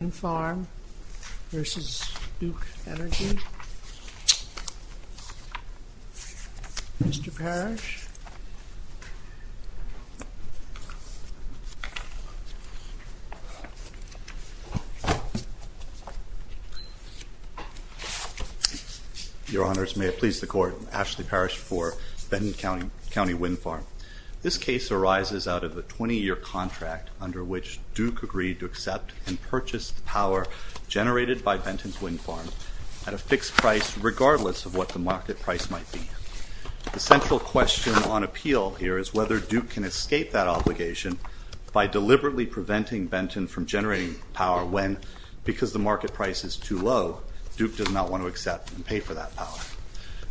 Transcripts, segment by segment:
Wind Farm v. Duke Energy. Mr. Parrish. Your Honors, may it please the Court, I'm Ashley Parrish for Benton County Wind Farm. This case arises out of a 20-year contract under which Duke agreed to accept and purchase the power generated by Benton's wind farm at a fixed price regardless of what the market price might be. The central question on appeal here is whether Duke can escape that obligation by deliberately preventing Benton from generating power when, because the market price is too low, Duke does not want to accept and pay for that power.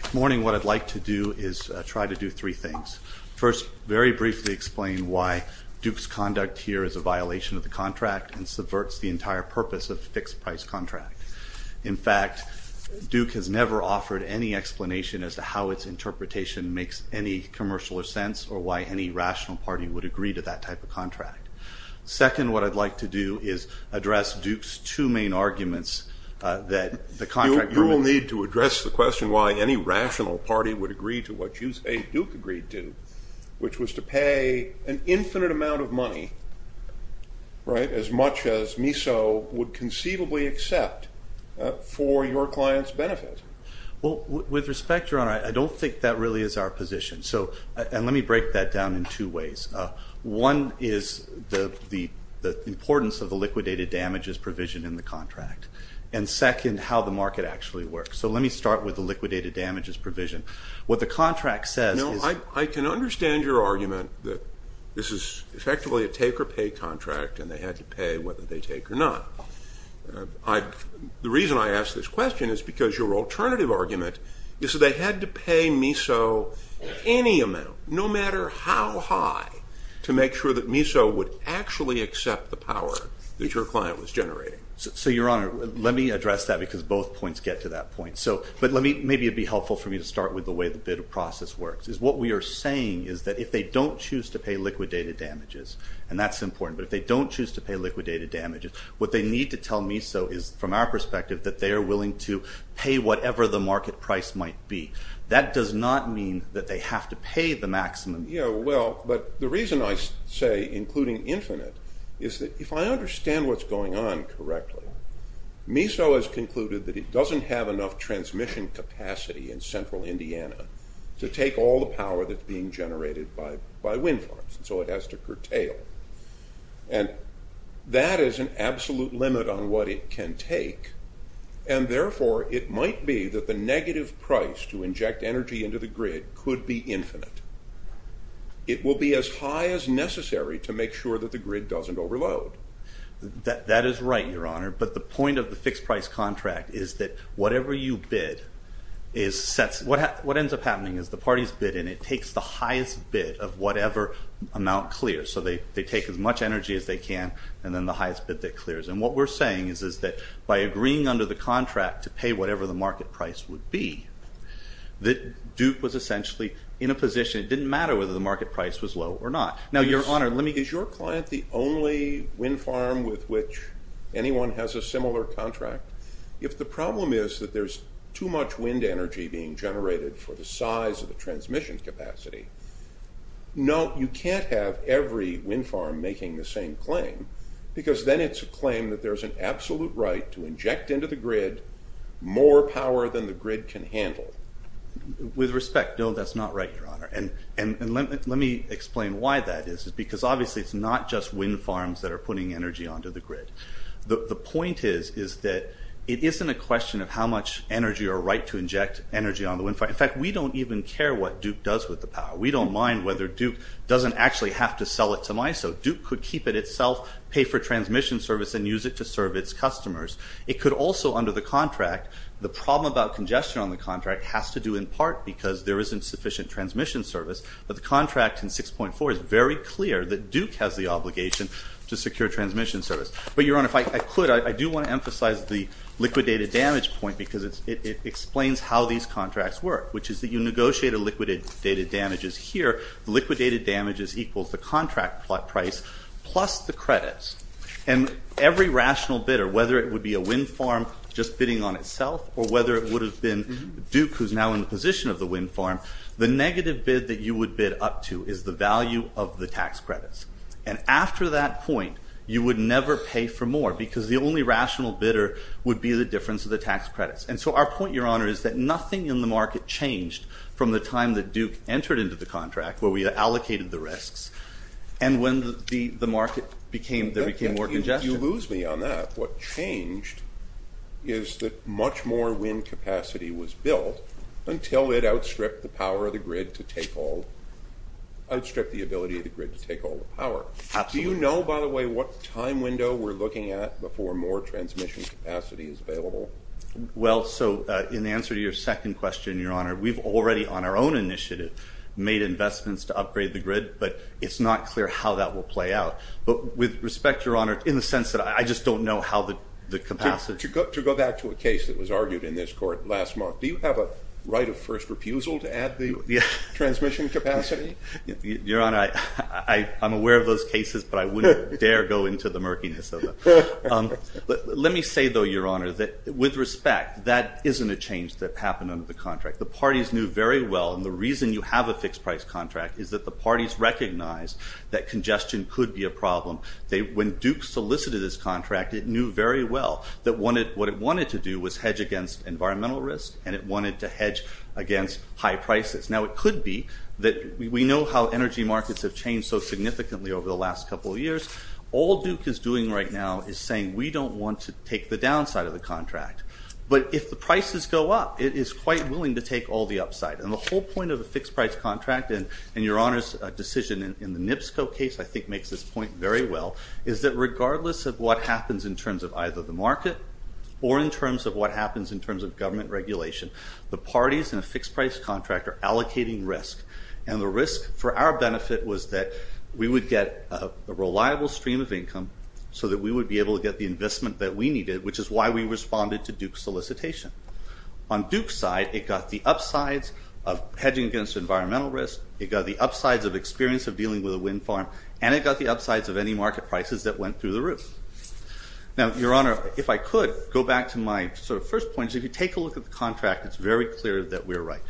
This morning what I'd like to do is try to do three things. First, very briefly explain why Duke's conduct here is a violation of the contract and subverts the entire purpose of a fixed price contract. In fact, Duke has never offered any explanation as to how its interpretation makes any commercial sense or why any rational party would agree to that type of contract. Second, what I'd like to do is address Duke's two main arguments that the contract- You will need to address the question why any rational party would agree to what you say Duke agreed to, which was to pay an infinite amount of money, right, as much as MISO would conceivably accept for your client's benefit. Well, with respect, Your Honor, I don't think that really is our position. So, and let me break that down in two ways. One is the importance of the liquidated damages provision in the contract. And second, how the market actually works. So let me start with the liquidated damages provision. What the contract says is- I can understand your argument that this is effectively a take-or-pay contract and they had to pay whether they take or not. The reason I ask this question is because your alternative argument is that they had to pay MISO any amount, no matter how high, to make sure that MISO would actually accept the power that your client was generating. So, Your Honor, let me address that because both points get to that point. But maybe it would be helpful for me to start with the way the bid process works. What we are saying is that if they don't choose to pay liquidated damages, and that's important, but if they don't choose to pay liquidated damages, what they need to tell MISO is, from our perspective, that they are willing to pay whatever the market price might be. That does not mean that they have to pay the maximum. Yeah, well, but the reason I say including infinite is that if I understand what's going on correctly, MISO has concluded that it doesn't have enough transmission capacity in central Indiana to take all the power that's being generated by wind farms. And so it has to curtail. And that is an absolute limit on what it can take. And therefore, it might be that the negative price to inject energy into the grid could be infinite. It will be as high as necessary to make sure that the grid doesn't overload. That is right, Your Honor. But the point of the fixed price contract is that whatever you bid is set. What ends up happening is the party's bid, and it takes the highest bid of whatever amount clears. So they take as much energy as they can, and then the highest bid that clears. And what we're saying is that by agreeing under the contract to pay whatever the market price would be, that Duke was essentially in a position, it didn't matter whether the market price was low or not. Is your client the only wind farm with which anyone has a similar contract? If the problem is that there's too much wind energy being generated for the size of the transmission capacity, no, you can't have every wind farm making the same claim, because then it's a claim that there's an absolute right to inject into the grid more power than the grid can handle. With respect, no, that's not right, Your Honor. And let me explain why that is, because obviously it's not just wind farms that are putting energy onto the grid. The point is that it isn't a question of how much energy or right to inject energy on the wind farm. In fact, we don't even care what Duke does with the power. We don't mind whether Duke doesn't actually have to sell it to MISO. Duke could keep it itself, pay for transmission service, and use it to serve its customers. It could also, under the contract, the problem about congestion on the contract has to do in part because there isn't sufficient transmission service. But the contract in 6.4 is very clear that Duke has the obligation to secure transmission service. But, Your Honor, if I could, I do want to emphasize the liquidated damage point because it explains how these contracts work, which is that you negotiate a liquidated damages here. Liquidated damages equals the contract price plus the credits. And every rational bidder, whether it would be a wind farm just bidding on itself or whether it would have been Duke, who's now in the position of the wind farm, the negative bid that you would bid up to is the value of the tax credits. And after that point, you would never pay for more because the only rational bidder would be the difference of the tax credits. And so our point, Your Honor, is that nothing in the market changed from the time that Duke entered into the contract where we allocated the risks and when the market became – there became more congestion. You lose me on that. What changed is that much more wind capacity was built until it outstripped the power of the grid to take all – outstripped the ability of the grid to take all the power. Absolutely. Do you know, by the way, what time window we're looking at before more transmission capacity is available? Well, so in answer to your second question, Your Honor, we've already on our own initiative made investments to upgrade the grid, but it's not clear how that will play out. But with respect, Your Honor, in the sense that I just don't know how the capacity – To go back to a case that was argued in this court last month, do you have a right of first refusal to add the transmission capacity? Your Honor, I'm aware of those cases, but I wouldn't dare go into the murkiness of them. Let me say, though, Your Honor, that with respect, that isn't a change that happened under the contract. The parties knew very well, and the reason you have a fixed price contract is that the parties recognize that congestion could be a problem. When Duke solicited this contract, it knew very well that what it wanted to do was hedge against environmental risk, and it wanted to hedge against high prices. Now, it could be that – we know how energy markets have changed so significantly over the last couple of years. All Duke is doing right now is saying we don't want to take the downside of the contract. But if the prices go up, it is quite willing to take all the upside. And the whole point of a fixed price contract, and Your Honor's decision in the NIPSCO case I think makes this point very well, is that regardless of what happens in terms of either the market or in terms of what happens in terms of government regulation, the parties in a fixed price contract are allocating risk. And the risk for our benefit was that we would get a reliable stream of income so that we would be able to get the investment that we needed, which is why we responded to Duke's solicitation. On Duke's side, it got the upsides of hedging against environmental risk. It got the upsides of experience of dealing with a wind farm. And it got the upsides of any market prices that went through the roof. Now, Your Honor, if I could, go back to my sort of first point. If you take a look at the contract, it's very clear that we're right.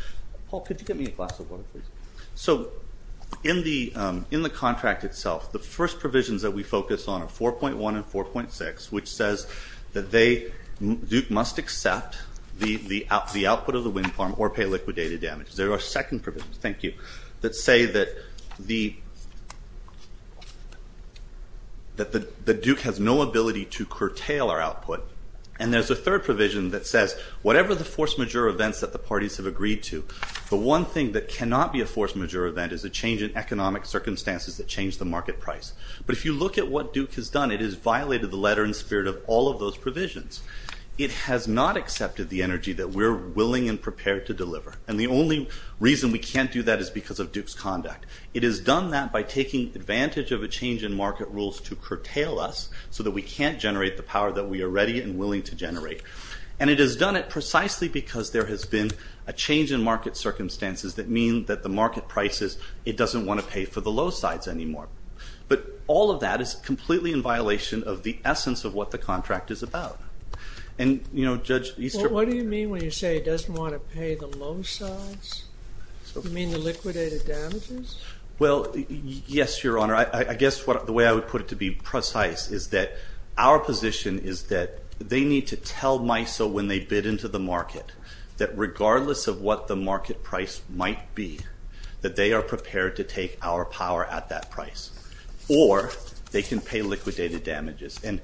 Paul, could you get me a glass of water, please? So in the contract itself, the first provisions that we focus on are 4.1 and 4.6, which says that Duke must accept the output of the wind farm or pay liquidated damages. There are second provisions, thank you, that say that Duke has no ability to curtail our output. And there's a third provision that says whatever the force majeure events that the parties have agreed to, the one thing that cannot be a force majeure event is a change in economic circumstances that changed the market price. But if you look at what Duke has done, it has violated the letter and spirit of all of those provisions. It has not accepted the energy that we're willing and prepared to deliver. And the only reason we can't do that is because of Duke's conduct. It has done that by taking advantage of a change in market rules to curtail us so that we can't generate the power that we are ready and willing to generate. And it has done it precisely because there has been a change in market circumstances that mean that the market prices, it doesn't want to pay for the low sides anymore. But all of that is completely in violation of the essence of what the contract is about. And, you know, Judge Easterbrook. Well, what do you mean when you say it doesn't want to pay the low sides? You mean the liquidated damages? Well, yes, Your Honor. I guess the way I would put it to be precise is that our position is that they need to tell MISO when they bid into the market that regardless of what the market price might be, that they are prepared to take our power at that price. Or they can pay liquidated damages. And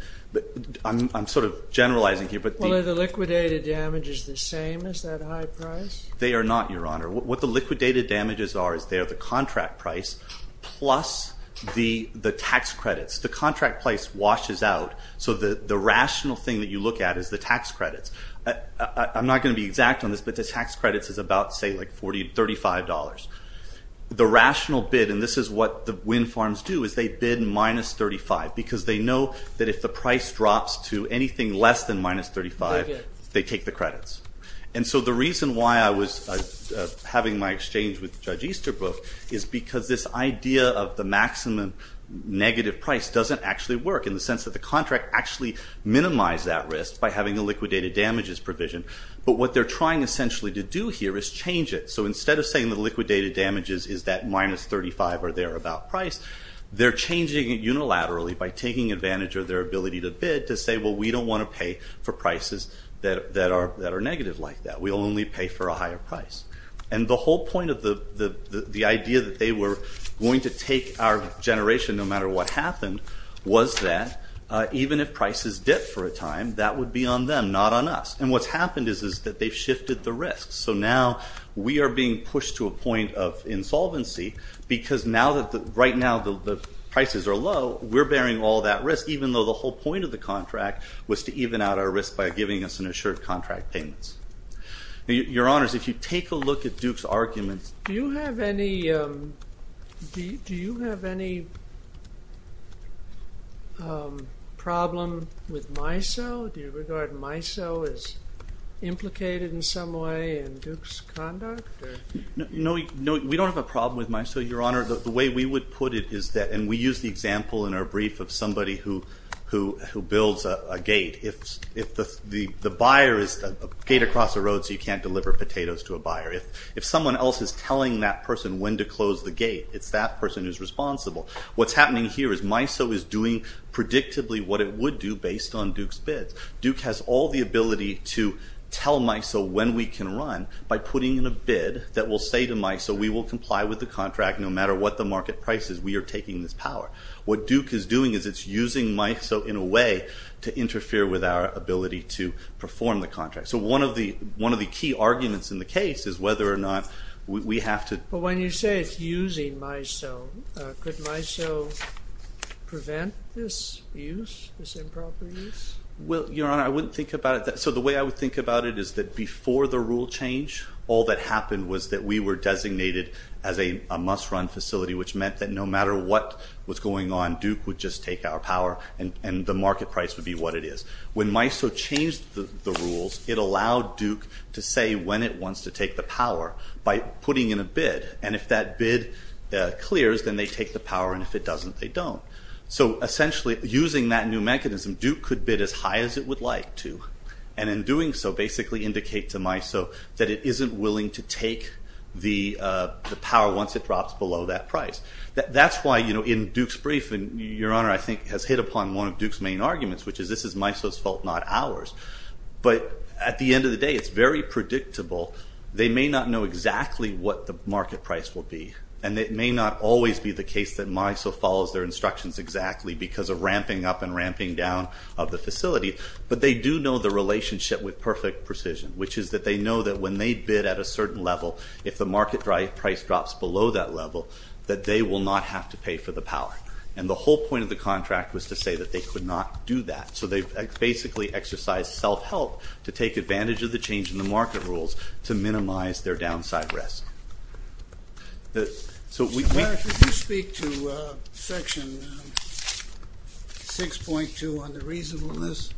I'm sort of generalizing here. Well, are the liquidated damages the same as that high price? They are not, Your Honor. What the liquidated damages are is they are the contract price plus the tax credits. The contract price washes out. So the rational thing that you look at is the tax credits. I'm not going to be exact on this, but the tax credits is about, say, like $40, $35. The rational bid, and this is what the wind farms do, is they bid minus $35. Because they know that if the price drops to anything less than minus $35, they take the credits. And so the reason why I was having my exchange with Judge Easterbrook is because this idea of the maximum negative price doesn't actually work in the sense that the contract actually minimized that risk by having the liquidated damages provision. But what they're trying essentially to do here is change it. So instead of saying the liquidated damages is that minus $35 or thereabout price, they're changing it unilaterally by taking advantage of their ability to bid to say, well, we don't want to pay for prices that are negative like that. We'll only pay for a higher price. And the whole point of the idea that they were going to take our generation, no matter what happened, was that even if prices dip for a time, that would be on them, not on us. And what's happened is that they've shifted the risk. So now we are being pushed to a point of insolvency because right now the prices are low. We're bearing all that risk, even though the whole point of the contract was to even out our risk by giving us an assured contract payments. Your Honors, if you take a look at Duke's arguments. Do you have any problem with MISO? Do you regard MISO as implicated in some way in Duke's conduct? No, we don't have a problem with MISO, Your Honor. The way we would put it is that, and we use the example in our brief of somebody who builds a gate. If the buyer is a gate across the road so you can't deliver potatoes to a buyer, if someone else is telling that person when to close the gate, it's that person who's responsible. What's happening here is MISO is doing predictably what it would do based on Duke's bids. Duke has all the ability to tell MISO when we can run by putting in a bid that will say to MISO, we will comply with the contract no matter what the market price is. We are taking this power. What Duke is doing is it's using MISO in a way to interfere with our ability to perform the contract. So one of the key arguments in the case is whether or not we have to. But when you say it's using MISO, could MISO prevent this use, this improper use? Well, Your Honor, I wouldn't think about it that way. So the way I would think about it is that before the rule change, all that happened was that we were designated as a must-run facility, which meant that no matter what was going on, Duke would just take our power and the market price would be what it is. When MISO changed the rules, it allowed Duke to say when it wants to take the power by putting in a bid. And if that bid clears, then they take the power, and if it doesn't, they don't. So essentially, using that new mechanism, Duke could bid as high as it would like to, and in doing so basically indicate to MISO that it isn't willing to take the power once it drops below that price. That's why in Duke's brief, Your Honor, I think has hit upon one of Duke's main arguments, which is this is MISO's fault, not ours. But at the end of the day, it's very predictable. They may not know exactly what the market price will be, and it may not always be the case that MISO follows their instructions exactly because of ramping up and ramping down of the facility, but they do know the relationship with perfect precision, which is that they know that when they bid at a certain level, if the market price drops below that level, that they will not have to pay for the power. And the whole point of the contract was to say that they could not do that. So they basically exercised self-help to take advantage of the change in the market rules to minimize their downside risk. Mr. Mayer, could you speak to Section 6.2 on the reasonableness?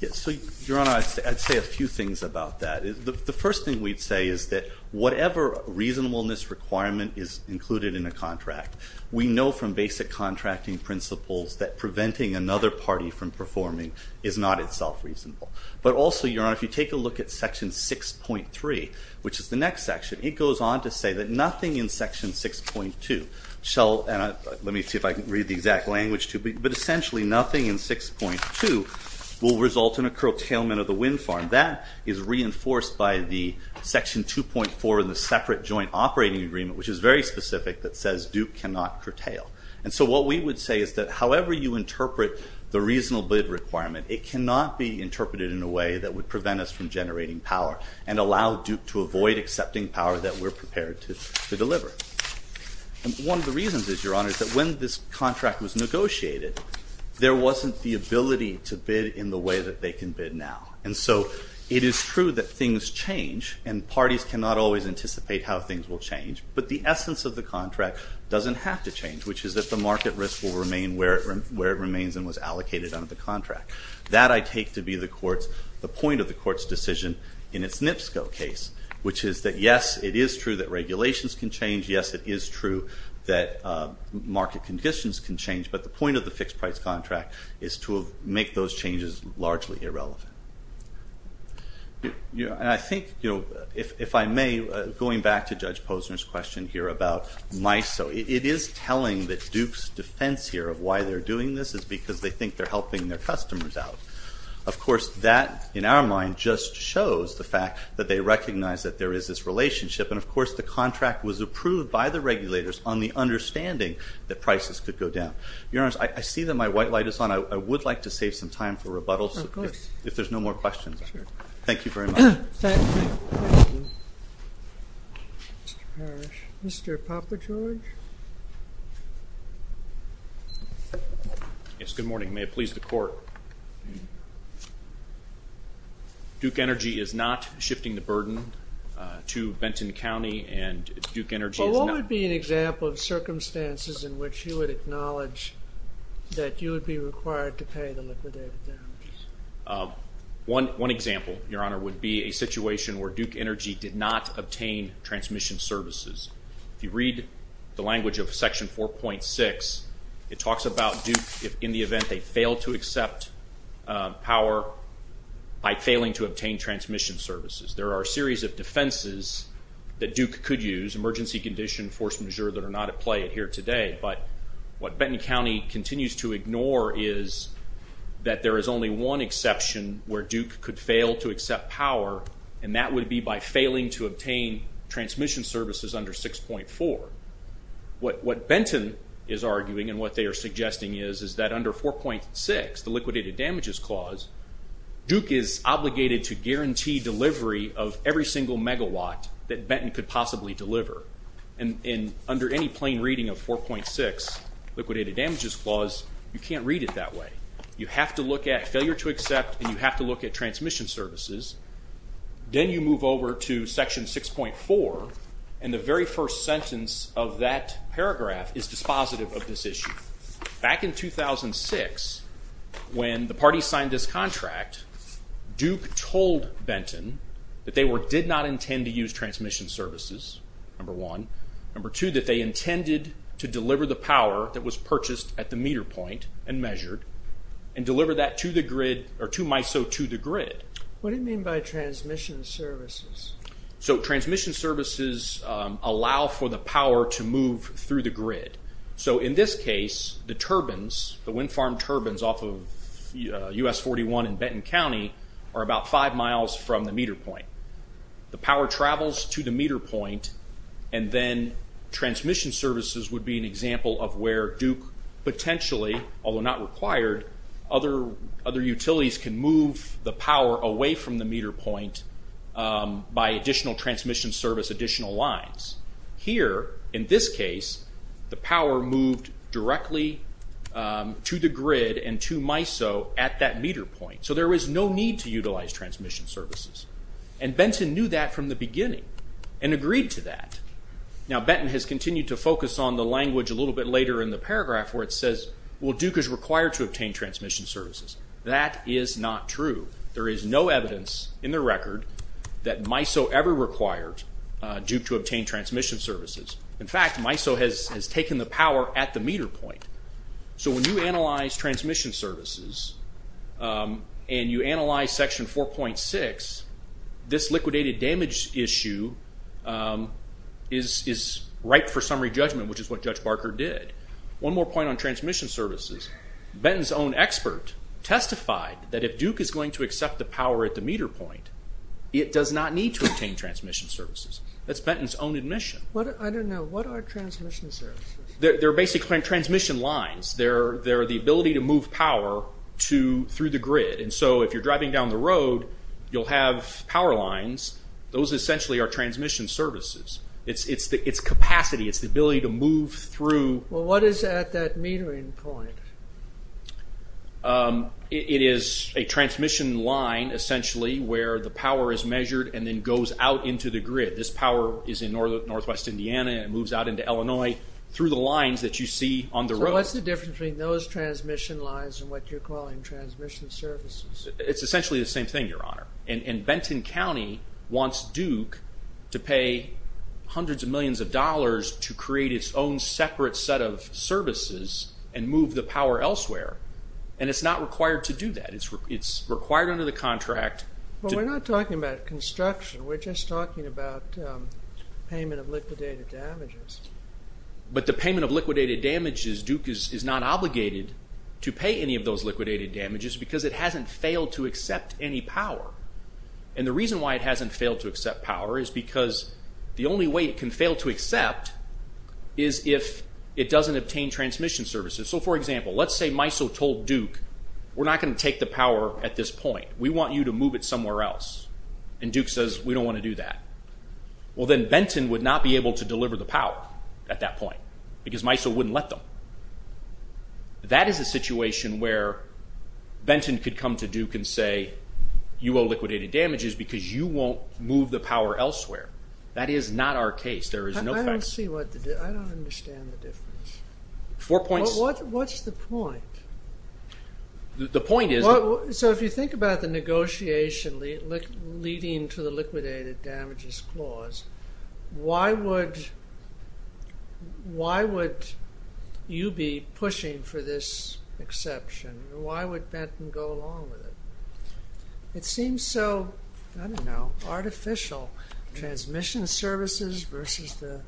Yes. So, Your Honor, I'd say a few things about that. The first thing we'd say is that whatever reasonableness requirement is included in a contract, we know from basic contracting principles that preventing another party from performing is not itself reasonable. But also, Your Honor, if you take a look at Section 6.3, which is the next section, it goes on to say that nothing in Section 6.2 shall, and let me see if I can read the exact language, but essentially nothing in 6.2 will result in a curtailment of the wind farm. That is reinforced by the Section 2.4 in the Separate Joint Operating Agreement, which is very specific, that says Duke cannot curtail. And so what we would say is that however you interpret the reasonable requirement, it cannot be interpreted in a way that would prevent us from generating power and allow Duke to avoid accepting power that we're prepared to deliver. One of the reasons is, Your Honor, is that when this contract was negotiated, there wasn't the ability to bid in the way that they can bid now. And so it is true that things change, and parties cannot always anticipate how things will change, but the essence of the contract doesn't have to change, which is that the market risk will remain where it remains and was allocated under the contract. That I take to be the point of the Court's decision in its NIPSCO case, which is that yes, it is true that regulations can change. Yes, it is true that market conditions can change, but the point of the fixed-price contract is to make those changes largely irrelevant. And I think, if I may, going back to Judge Posner's question here about MISO, it is telling that Duke's defense here of why they're doing this is because they think they're helping their customers out. Of course, that, in our mind, just shows the fact that they recognize that there is this relationship. And, of course, the contract was approved by the regulators on the understanding that prices could go down. Your Honors, I see that my white light is on. I would like to save some time for rebuttals if there's no more questions. Thank you very much. Thank you. Mr. Parrish. Mr. Popper-George? Yes, good morning. May it please the Court. Duke Energy is not shifting the burden to Benton County, and Duke Energy is not— Well, what would be an example of circumstances in which you would acknowledge that you would be required to pay the liquidated damages? One example, Your Honor, would be a situation where Duke Energy did not obtain transmission services. If you read the language of Section 4.6, it talks about Duke, in the event they fail to accept power by failing to obtain transmission services. There are a series of defenses that Duke could use, emergency condition, force majeure that are not at play here today. But what Benton County continues to ignore is that there is only one exception where Duke could fail to accept power, and that would be by failing to obtain transmission services under 6.4. What Benton is arguing and what they are suggesting is, is that under 4.6, the liquidated damages clause, Duke is obligated to guarantee delivery of every single megawatt that Benton could possibly deliver. Under any plain reading of 4.6, liquidated damages clause, you can't read it that way. You have to look at failure to accept, and you have to look at transmission services. Then you move over to Section 6.4, and the very first sentence of that paragraph is dispositive of this issue. Back in 2006, when the parties signed this contract, Duke told Benton that they did not intend to use transmission services, number one. Number two, that they intended to deliver the power that was purchased at the meter point and measured and deliver that to the grid or to MISO to the grid. What do you mean by transmission services? Transmission services allow for the power to move through the grid. In this case, the turbines, the wind farm turbines off of US-41 in Benton County, are about five miles from the meter point. The power travels to the meter point, and then transmission services would be an example of where Duke potentially, although not required, other utilities can move the power away from the meter point by additional transmission service, additional lines. Here, in this case, the power moved directly to the grid and to MISO at that meter point, so there was no need to utilize transmission services. And Benton knew that from the beginning and agreed to that. Now, Benton has continued to focus on the language a little bit later in the paragraph where it says, well, Duke is required to obtain transmission services. That is not true. There is no evidence in the record that MISO ever required Duke to obtain transmission services. In fact, MISO has taken the power at the meter point. So when you analyze transmission services and you analyze Section 4.6, this liquidated damage issue is right for summary judgment, which is what Judge Barker did. One more point on transmission services. Benton's own expert testified that if Duke is going to accept the power at the meter point, it does not need to obtain transmission services. That's Benton's own admission. I don't know. What are transmission services? They're basically transmission lines. They're the ability to move power through the grid. And so if you're driving down the road, you'll have power lines. Those essentially are transmission services. It's capacity. It's the ability to move through. Well, what is at that metering point? It is a transmission line, essentially, where the power is measured and then goes out into the grid. This power is in northwest Indiana, and it moves out into Illinois through the lines that you see on the road. So what's the difference between those transmission lines and what you're calling transmission services? It's essentially the same thing, Your Honor. And Benton County wants Duke to pay hundreds of millions of dollars to create its own separate set of services and move the power elsewhere. And it's not required to do that. It's required under the contract. Well, we're not talking about construction. We're just talking about payment of liquidated damages. But the payment of liquidated damages, Duke is not obligated to pay any of those liquidated damages because it hasn't failed to accept any power. And the reason why it hasn't failed to accept power is because the only way it can fail to accept is if it doesn't obtain transmission services. So, for example, let's say MISO told Duke, we're not going to take the power at this point. We want you to move it somewhere else. And Duke says, we don't want to do that. Well, then Benton would not be able to deliver the power at that point because MISO wouldn't let them. That is a situation where Benton could come to Duke and say, you owe liquidated damages because you won't move the power elsewhere. That is not our case. There is no fact. I don't understand the difference. Four points. What's the point? The point is... So if you think about the negotiation leading to the liquidated damages clause, why would you be pushing for this exception? Why would Benton go along with it? It seems so, I don't know, artificial. Transmission services versus the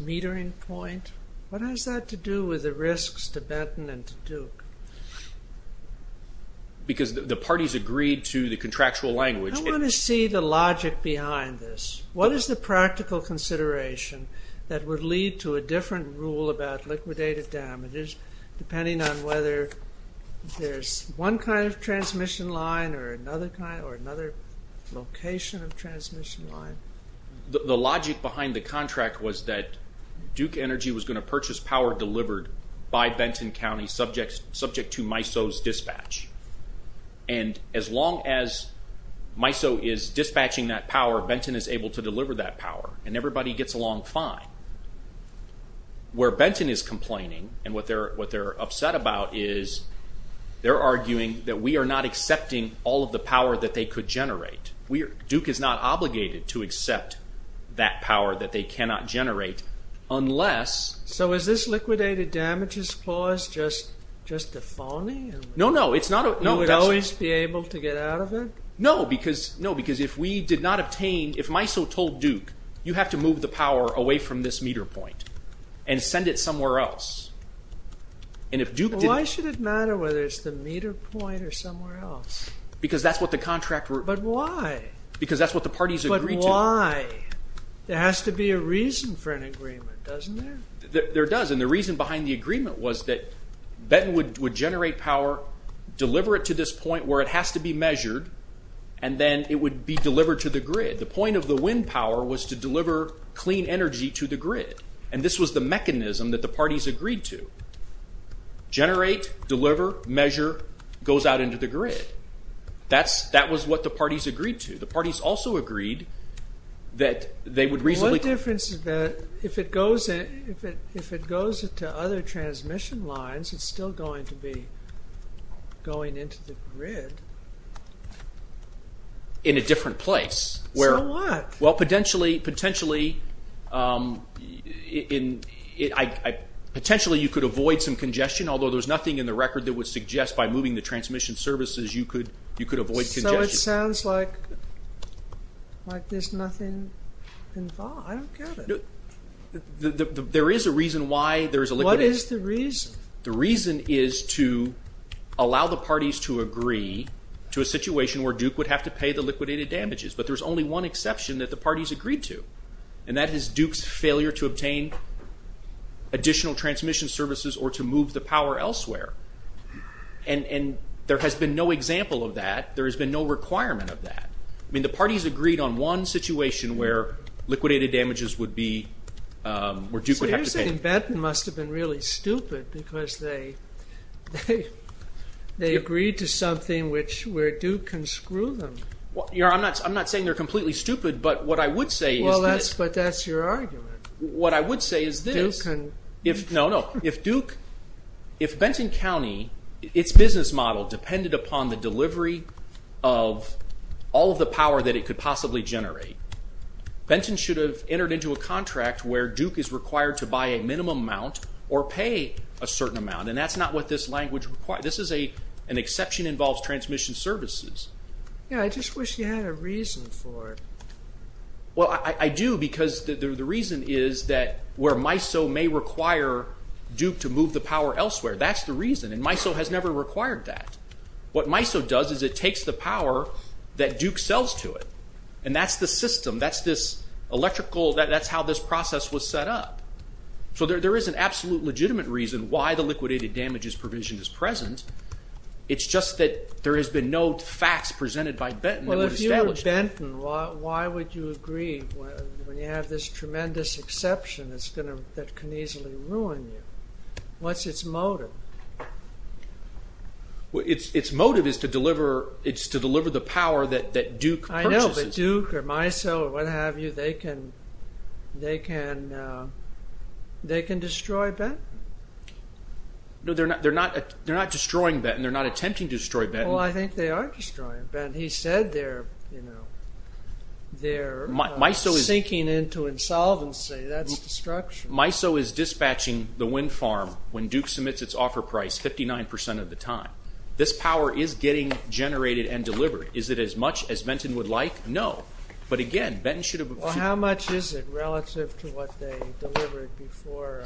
metering point. What has that to do with the risks to Benton and to Duke? Because the parties agreed to the contractual language. I want to see the logic behind this. What is the practical consideration that would lead to a different rule about liquidated damages depending on whether there is one kind of transmission line or another kind or another location of transmission line? The logic behind the contract was that Duke Energy was going to purchase power delivered by Benton County subject to MISO's dispatch. And as long as MISO is dispatching that power, Benton is able to deliver that power. And everybody gets along fine. Where Benton is complaining and what they're upset about is they're arguing that we are not accepting all of the power that they could generate. Duke is not obligated to accept that power that they cannot generate unless... So is this liquidated damages clause just a phony? No, no. It's not... You would always be able to get out of it? No, because if we did not obtain... If MISO told Duke, you have to move the power away from this meter point and send it somewhere else. Why should it matter whether it's the meter point or somewhere else? Because that's what the contract... But why? Because that's what the parties agreed to. But why? There has to be a reason for an agreement, doesn't there? There does. And the reason behind the agreement was that Benton would generate power, deliver it to this point where it has to be measured, and then it would be delivered to the grid. The point of the wind power was to deliver clean energy to the grid. And this was the mechanism that the parties agreed to. Generate, deliver, measure, goes out into the grid. That was what the parties agreed to. The parties also agreed that they would reasonably... But if it goes to other transmission lines, it's still going to be going into the grid. In a different place. So what? Well, potentially you could avoid some congestion, although there's nothing in the record that would suggest by moving the transmission services you could avoid congestion. So it sounds like there's nothing involved. I don't get it. There is a reason why... What is the reason? The reason is to allow the parties to agree to a situation where Duke would have to pay the liquidated damages. But there's only one exception that the parties agreed to. And that is Duke's failure to obtain additional transmission services or to move the power elsewhere. And there has been no example of that. There has been no requirement of that. I mean, the parties agreed on one situation where liquidated damages would be... So you're saying Benton must have been really stupid because they agreed to something where Duke can screw them. I'm not saying they're completely stupid, but what I would say is... Well, but that's your argument. What I would say is this. Duke can... No, no. If Duke... If Benton County, its business model depended upon the delivery of all of the power that it could possibly generate, Benton should have entered into a contract where Duke is required to buy a minimum amount or pay a certain amount. And that's not what this language requires. This is an exception involves transmission services. Yeah, I just wish you had a reason for it. Well, I do because the reason is that where MISO may require Duke to move the power elsewhere. That's the reason. And MISO has never required that. What MISO does is it takes the power that Duke sells to it. And that's the system. That's this electrical... That's how this process was set up. So there is an absolute legitimate reason why the liquidated damages provision is present. It's just that there has been no facts presented by Benton that would establish... Why would you agree when you have this tremendous exception that can easily ruin you? What's its motive? Its motive is to deliver the power that Duke purchases. I know, but Duke or MISO or what have you, they can destroy Benton. No, they're not destroying Benton. They're not attempting to destroy Benton. Well, I think they are destroying Benton. He said they're sinking into insolvency. That's destruction. MISO is dispatching the wind farm when Duke submits its offer price 59% of the time. This power is getting generated and delivered. Is it as much as Benton would like? No. But again, Benton should have... Well, how much is it relative to what they delivered before?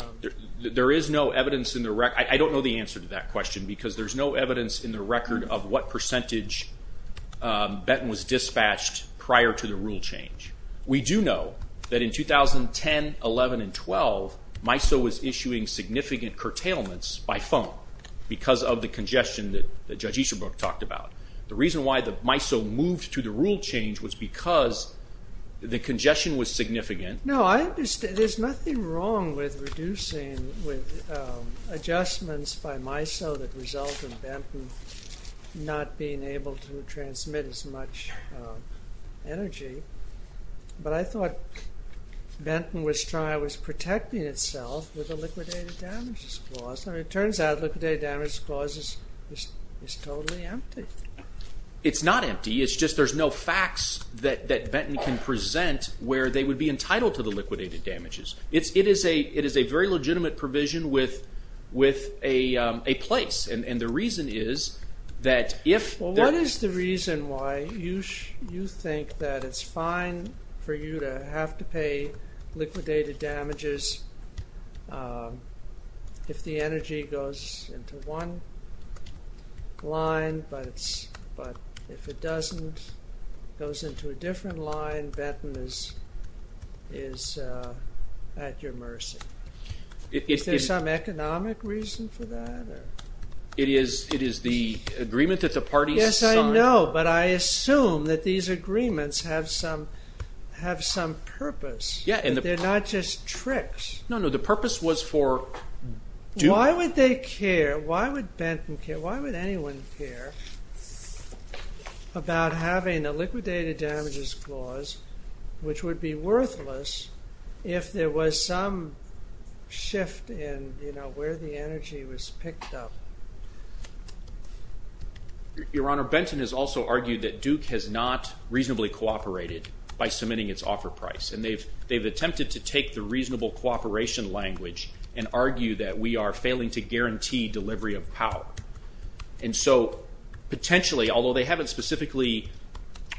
There is no evidence in the record. I don't know the answer to that question because there's no evidence in the record of what percentage Benton was dispatched prior to the rule change. We do know that in 2010, 11, and 12, MISO was issuing significant curtailments by phone because of the congestion that Judge Easterbrook talked about. The reason why the MISO moved to the rule change was because the congestion was significant. No, I understand. There's nothing wrong with reducing with adjustments by MISO that result in Benton not being able to transmit as much energy. But I thought Benton was protecting itself with a liquidated damages clause. It turns out liquidated damages clause is totally empty. It's not empty. It's just there's no facts that Benton can present where they would be entitled to the liquidated damages. It is a very legitimate provision with a place. And the reason is that if... It goes into one line, but if it doesn't, it goes into a different line. Benton is at your mercy. Is there some economic reason for that? It is the agreement that the parties signed. Yes, I know, but I assume that these agreements have some purpose. They're not just tricks. No, no, the purpose was for... Why would they care? Why would Benton care? Why would anyone care about having a liquidated damages clause which would be worthless if there was some shift in, you know, where the energy was picked up? Your Honor, Benton has also argued that Duke has not reasonably cooperated by submitting its offer price. And they've attempted to take the reasonable cooperation language and argue that we are failing to guarantee delivery of power. And so potentially, although they haven't specifically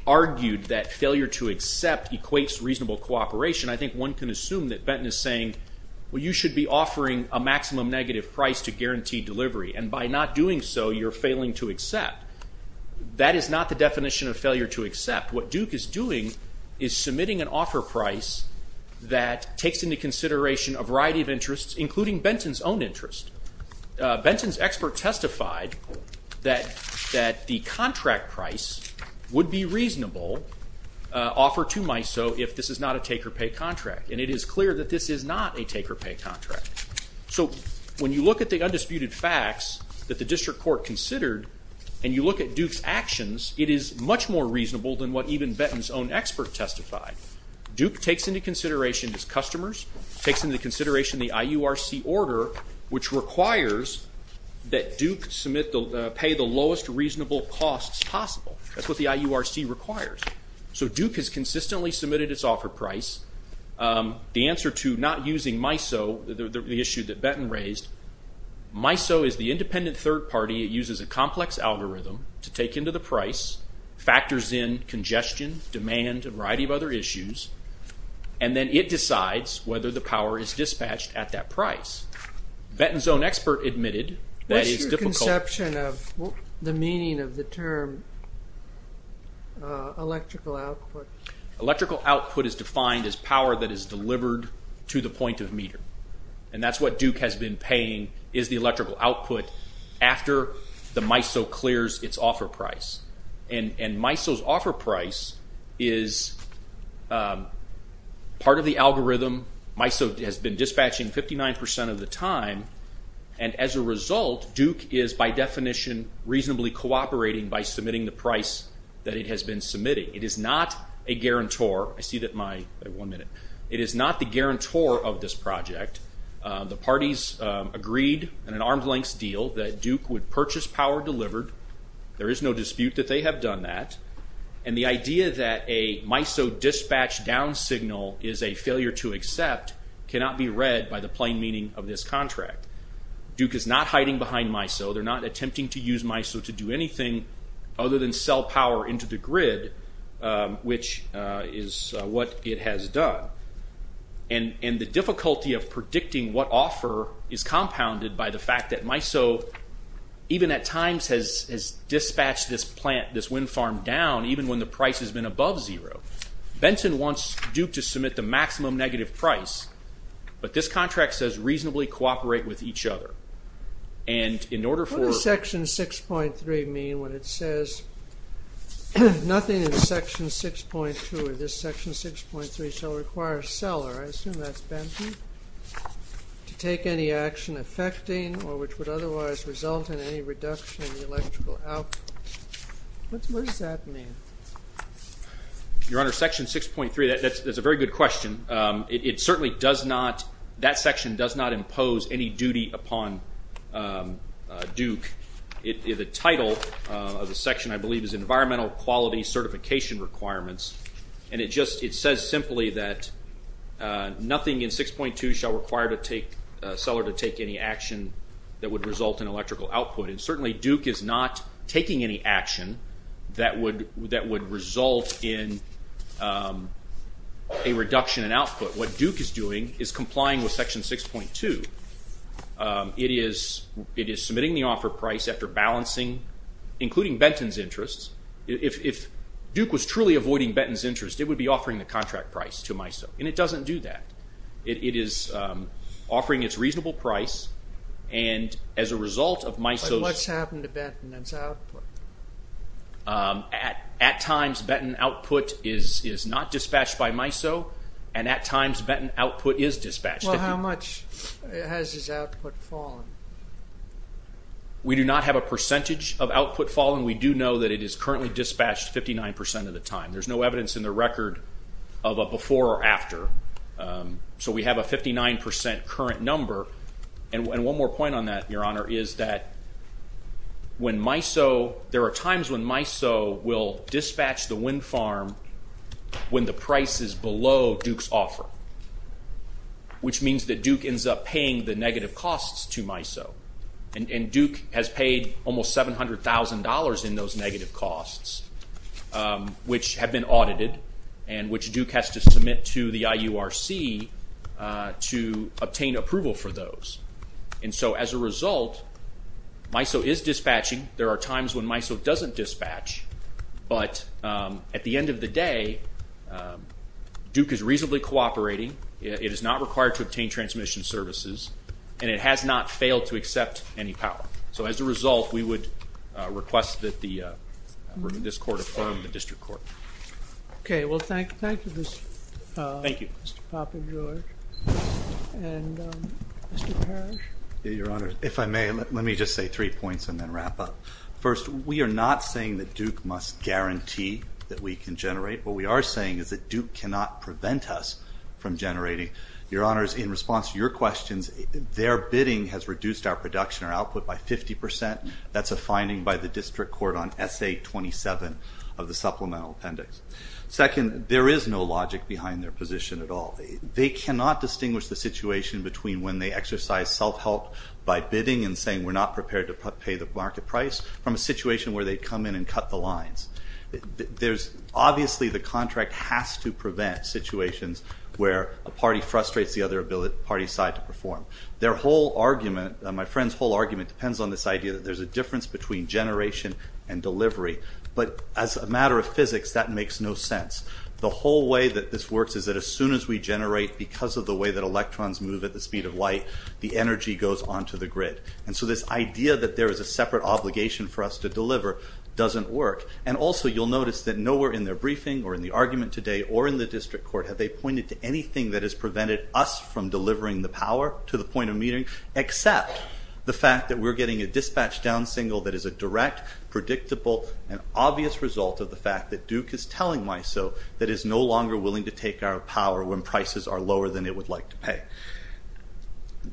argued that failure to accept equates reasonable cooperation, I think one can assume that Benton is saying, well, you should be offering a maximum negative price to guarantee delivery. And by not doing so, you're failing to accept. In fact, what Duke is doing is submitting an offer price that takes into consideration a variety of interests, including Benton's own interest. Benton's expert testified that the contract price would be reasonable offer to MISO if this is not a take-or-pay contract. And it is clear that this is not a take-or-pay contract. So when you look at the undisputed facts that the district court considered and you look at Duke's actions, it is much more reasonable than what even Benton's own expert testified. Duke takes into consideration its customers, takes into consideration the IURC order, which requires that Duke pay the lowest reasonable costs possible. That's what the IURC requires. So Duke has consistently submitted its offer price. The answer to not using MISO, the issue that Benton raised, MISO is the independent third party. It uses a complex algorithm to take into the price, factors in congestion, demand, a variety of other issues, and then it decides whether the power is dispatched at that price. Benton's own expert admitted that it's difficult. What's your conception of the meaning of the term electrical output? Electrical output is defined as power that is delivered to the point of meter. And that's what Duke has been paying is the electrical output after the MISO clears its offer price. And MISO's offer price is part of the algorithm. MISO has been dispatching 59 percent of the time. And as a result, Duke is by definition reasonably cooperating by submitting the price that it has been submitting. It is not a guarantor. I see that my one minute. It is not the guarantor of this project. The parties agreed in an arm's length deal that Duke would purchase power delivered. There is no dispute that they have done that. And the idea that a MISO dispatch down signal is a failure to accept cannot be read by the plain meaning of this contract. Duke is not hiding behind MISO. They're not attempting to use MISO to do anything other than sell power into the grid, which is what it has done. And the difficulty of predicting what offer is compounded by the fact that MISO, even at times, has dispatched this plant, this wind farm down, even when the price has been above zero. Benton wants Duke to submit the maximum negative price. But this contract says reasonably cooperate with each other. And in order for. What does Section 6.3 mean when it says nothing in Section 6.2 or this Section 6.3 shall require a seller, I assume that's Benton, to take any action affecting or which would otherwise result in any reduction in the electrical output? What does that mean? Your Honor, Section 6.3, that's a very good question. It certainly does not. That section does not impose any duty upon Duke. The title of the section, I believe, is Environmental Quality Certification Requirements. And it just it says simply that nothing in 6.2 shall require to take a seller to take any action that would result in electrical output. And certainly Duke is not taking any action that would result in a reduction in output. What Duke is doing is complying with Section 6.2. It is submitting the offer price after balancing, including Benton's interests. If Duke was truly avoiding Benton's interest, it would be offering the contract price to MISO. And it doesn't do that. It is offering its reasonable price. And as a result of MISO's... But what's happened to Benton and its output? At times, Benton output is not dispatched by MISO. And at times, Benton output is dispatched. Well, how much has its output fallen? We do not have a percentage of output falling. We do know that it is currently dispatched 59% of the time. There's no evidence in the record of a before or after. So we have a 59% current number. And one more point on that, Your Honor, is that when MISO... There are times when MISO will dispatch the wind farm when the price is below Duke's offer, which means that Duke ends up paying the negative costs to MISO. And Duke has paid almost $700,000 in those negative costs, which have been audited and which Duke has to submit to the IURC to obtain approval for those. And so as a result, MISO is dispatching. There are times when MISO doesn't dispatch. But at the end of the day, Duke is reasonably cooperating. It is not required to obtain transmission services. And it has not failed to accept any power. So as a result, we would request that this court affirm the district court. Okay. Well, thank you, Mr. Papagiorg. And Mr. Parrish? Your Honor, if I may, let me just say three points and then wrap up. First, we are not saying that Duke must guarantee that we can generate. What we are saying is that Duke cannot prevent us from generating. Your Honor, in response to your questions, their bidding has reduced our production or output by 50%. That's a finding by the district court on SA-27 of the supplemental appendix. Second, there is no logic behind their position at all. They cannot distinguish the situation between when they exercise self-help by bidding and saying we're not prepared to pay the market price from a situation where they come in and cut the lines. Obviously, the contract has to prevent situations where a party frustrates the other party's side to perform. Their whole argument, my friend's whole argument, depends on this idea that there's a difference between generation and delivery. But as a matter of physics, that makes no sense. The whole way that this works is that as soon as we generate because of the way that electrons move at the speed of light, the energy goes onto the grid. And so this idea that there is a separate obligation for us to deliver doesn't work. And also you'll notice that nowhere in their briefing or in the argument today or in the district court have they pointed to anything that has prevented us from delivering the power to the point of meeting except the fact that we're getting a dispatch down single that is a direct, predictable, and obvious result of the fact that Duke is telling MISO that it is no longer willing to take our power when prices are lower than it would like to pay.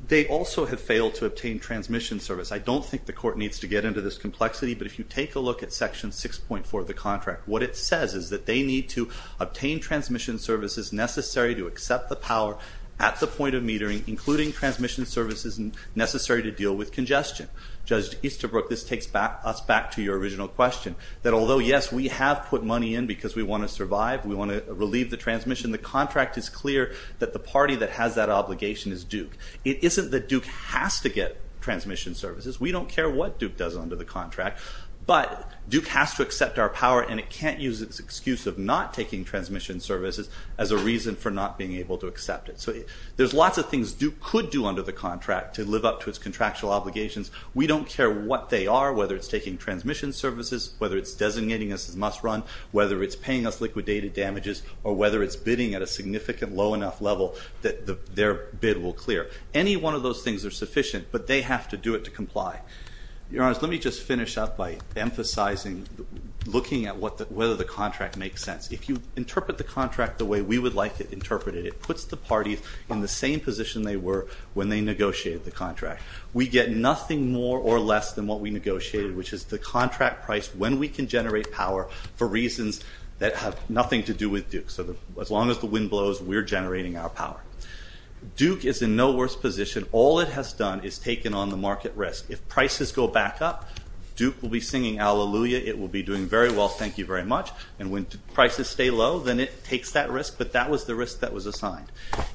They also have failed to obtain transmission service. I don't think the court needs to get into this complexity, but if you take a look at Section 6.4 of the contract, what it says is that they need to obtain transmission services necessary to accept the power at the point of metering, including transmission services necessary to deal with congestion. Judge Easterbrook, this takes us back to your original question, that although, yes, we have put money in because we want to survive, we want to relieve the transmission, the contract is clear that the party that has that obligation is Duke. It isn't that Duke has to get transmission services. We don't care what Duke does under the contract, but Duke has to accept our power, and it can't use its excuse of not taking transmission services as a reason for not being able to accept it. So there's lots of things Duke could do under the contract to live up to its contractual obligations. We don't care what they are, whether it's taking transmission services, whether it's designating us as must-run, whether it's paying us liquidated damages, or whether it's bidding at a significant low enough level that their bid will clear. Any one of those things are sufficient, but they have to do it to comply. Your Honors, let me just finish up by emphasizing, looking at whether the contract makes sense. If you interpret the contract the way we would like it interpreted, it puts the parties in the same position they were when they negotiated the contract. We get nothing more or less than what we negotiated, which is the contract price when we can generate power for reasons that have nothing to do with Duke. So as long as the wind blows, we're generating our power. Duke is in no worse position. All it has done is taken on the market risk. If prices go back up, Duke will be singing Hallelujah. It will be doing very well, thank you very much. And when prices stay low, then it takes that risk. But that was the risk that was assigned.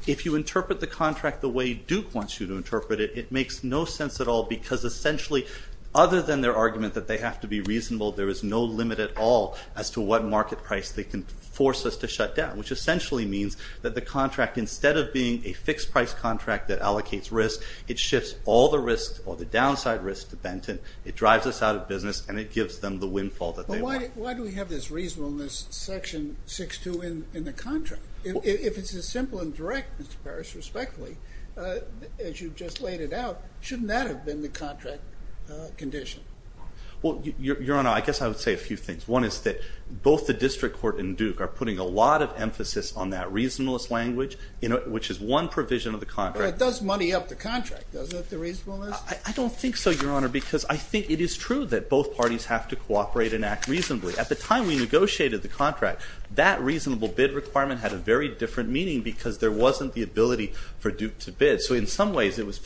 If you interpret the contract the way Duke wants you to interpret it, it makes no sense at all because essentially, other than their argument that they have to be reasonable, there is no limit at all as to what market price they can force us to shut down, which essentially means that the contract, instead of being a fixed-price contract that allocates risk, it shifts all the risks or the downside risks to Benton. It drives us out of business, and it gives them the windfall that they want. But why do we have this reasonableness section 6-2 in the contract? If it's as simple and direct, Mr. Parrish, respectfully, as you just laid it out, shouldn't that have been the contract condition? Well, Your Honor, I guess I would say a few things. One is that both the district court and Duke are putting a lot of emphasis on that reasonableness language, which is one provision of the contract. But it does money up the contract, doesn't it, the reasonableness? I don't think so, Your Honor, because I think it is true that both parties have to cooperate and act reasonably. At the time we negotiated the contract, that reasonable bid requirement had a very different meaning because there wasn't the ability for Duke to bid. So in some ways, it was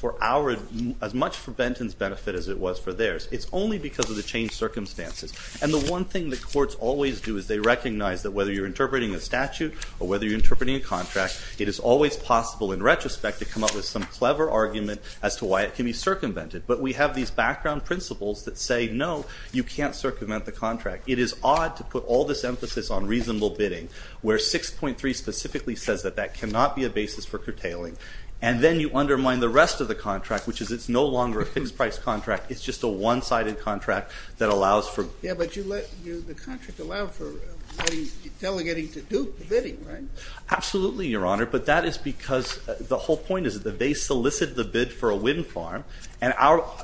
as much for Benton's benefit as it was for theirs. It's only because of the changed circumstances. And the one thing the courts always do is they recognize that whether you're interpreting a statute or whether you're interpreting a contract, it is always possible in retrospect to come up with some clever argument as to why it can be circumvented. But we have these background principles that say, no, you can't circumvent the contract. It is odd to put all this emphasis on reasonable bidding, where 6.3 specifically says that that cannot be a basis for curtailing. And then you undermine the rest of the contract, which is it's no longer a fixed-price contract. It's just a one-sided contract that allows for— Yeah, but the contract allowed for delegating to Duke the bidding, right? Absolutely, Your Honor. But that is because the whole point is that they solicit the bid for a wind farm. And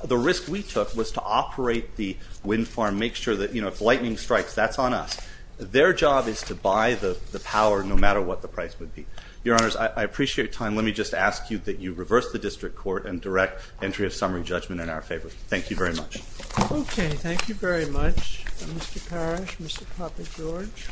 the risk we took was to operate the wind farm, make sure that if lightning strikes, that's on us. Their job is to buy the power no matter what the price would be. Your Honors, I appreciate your time. And let me just ask you that you reverse the district court and direct entry of summary judgment in our favor. Thank you very much. Okay. Thank you very much, Mr. Parrish, Mr. Poppe, George.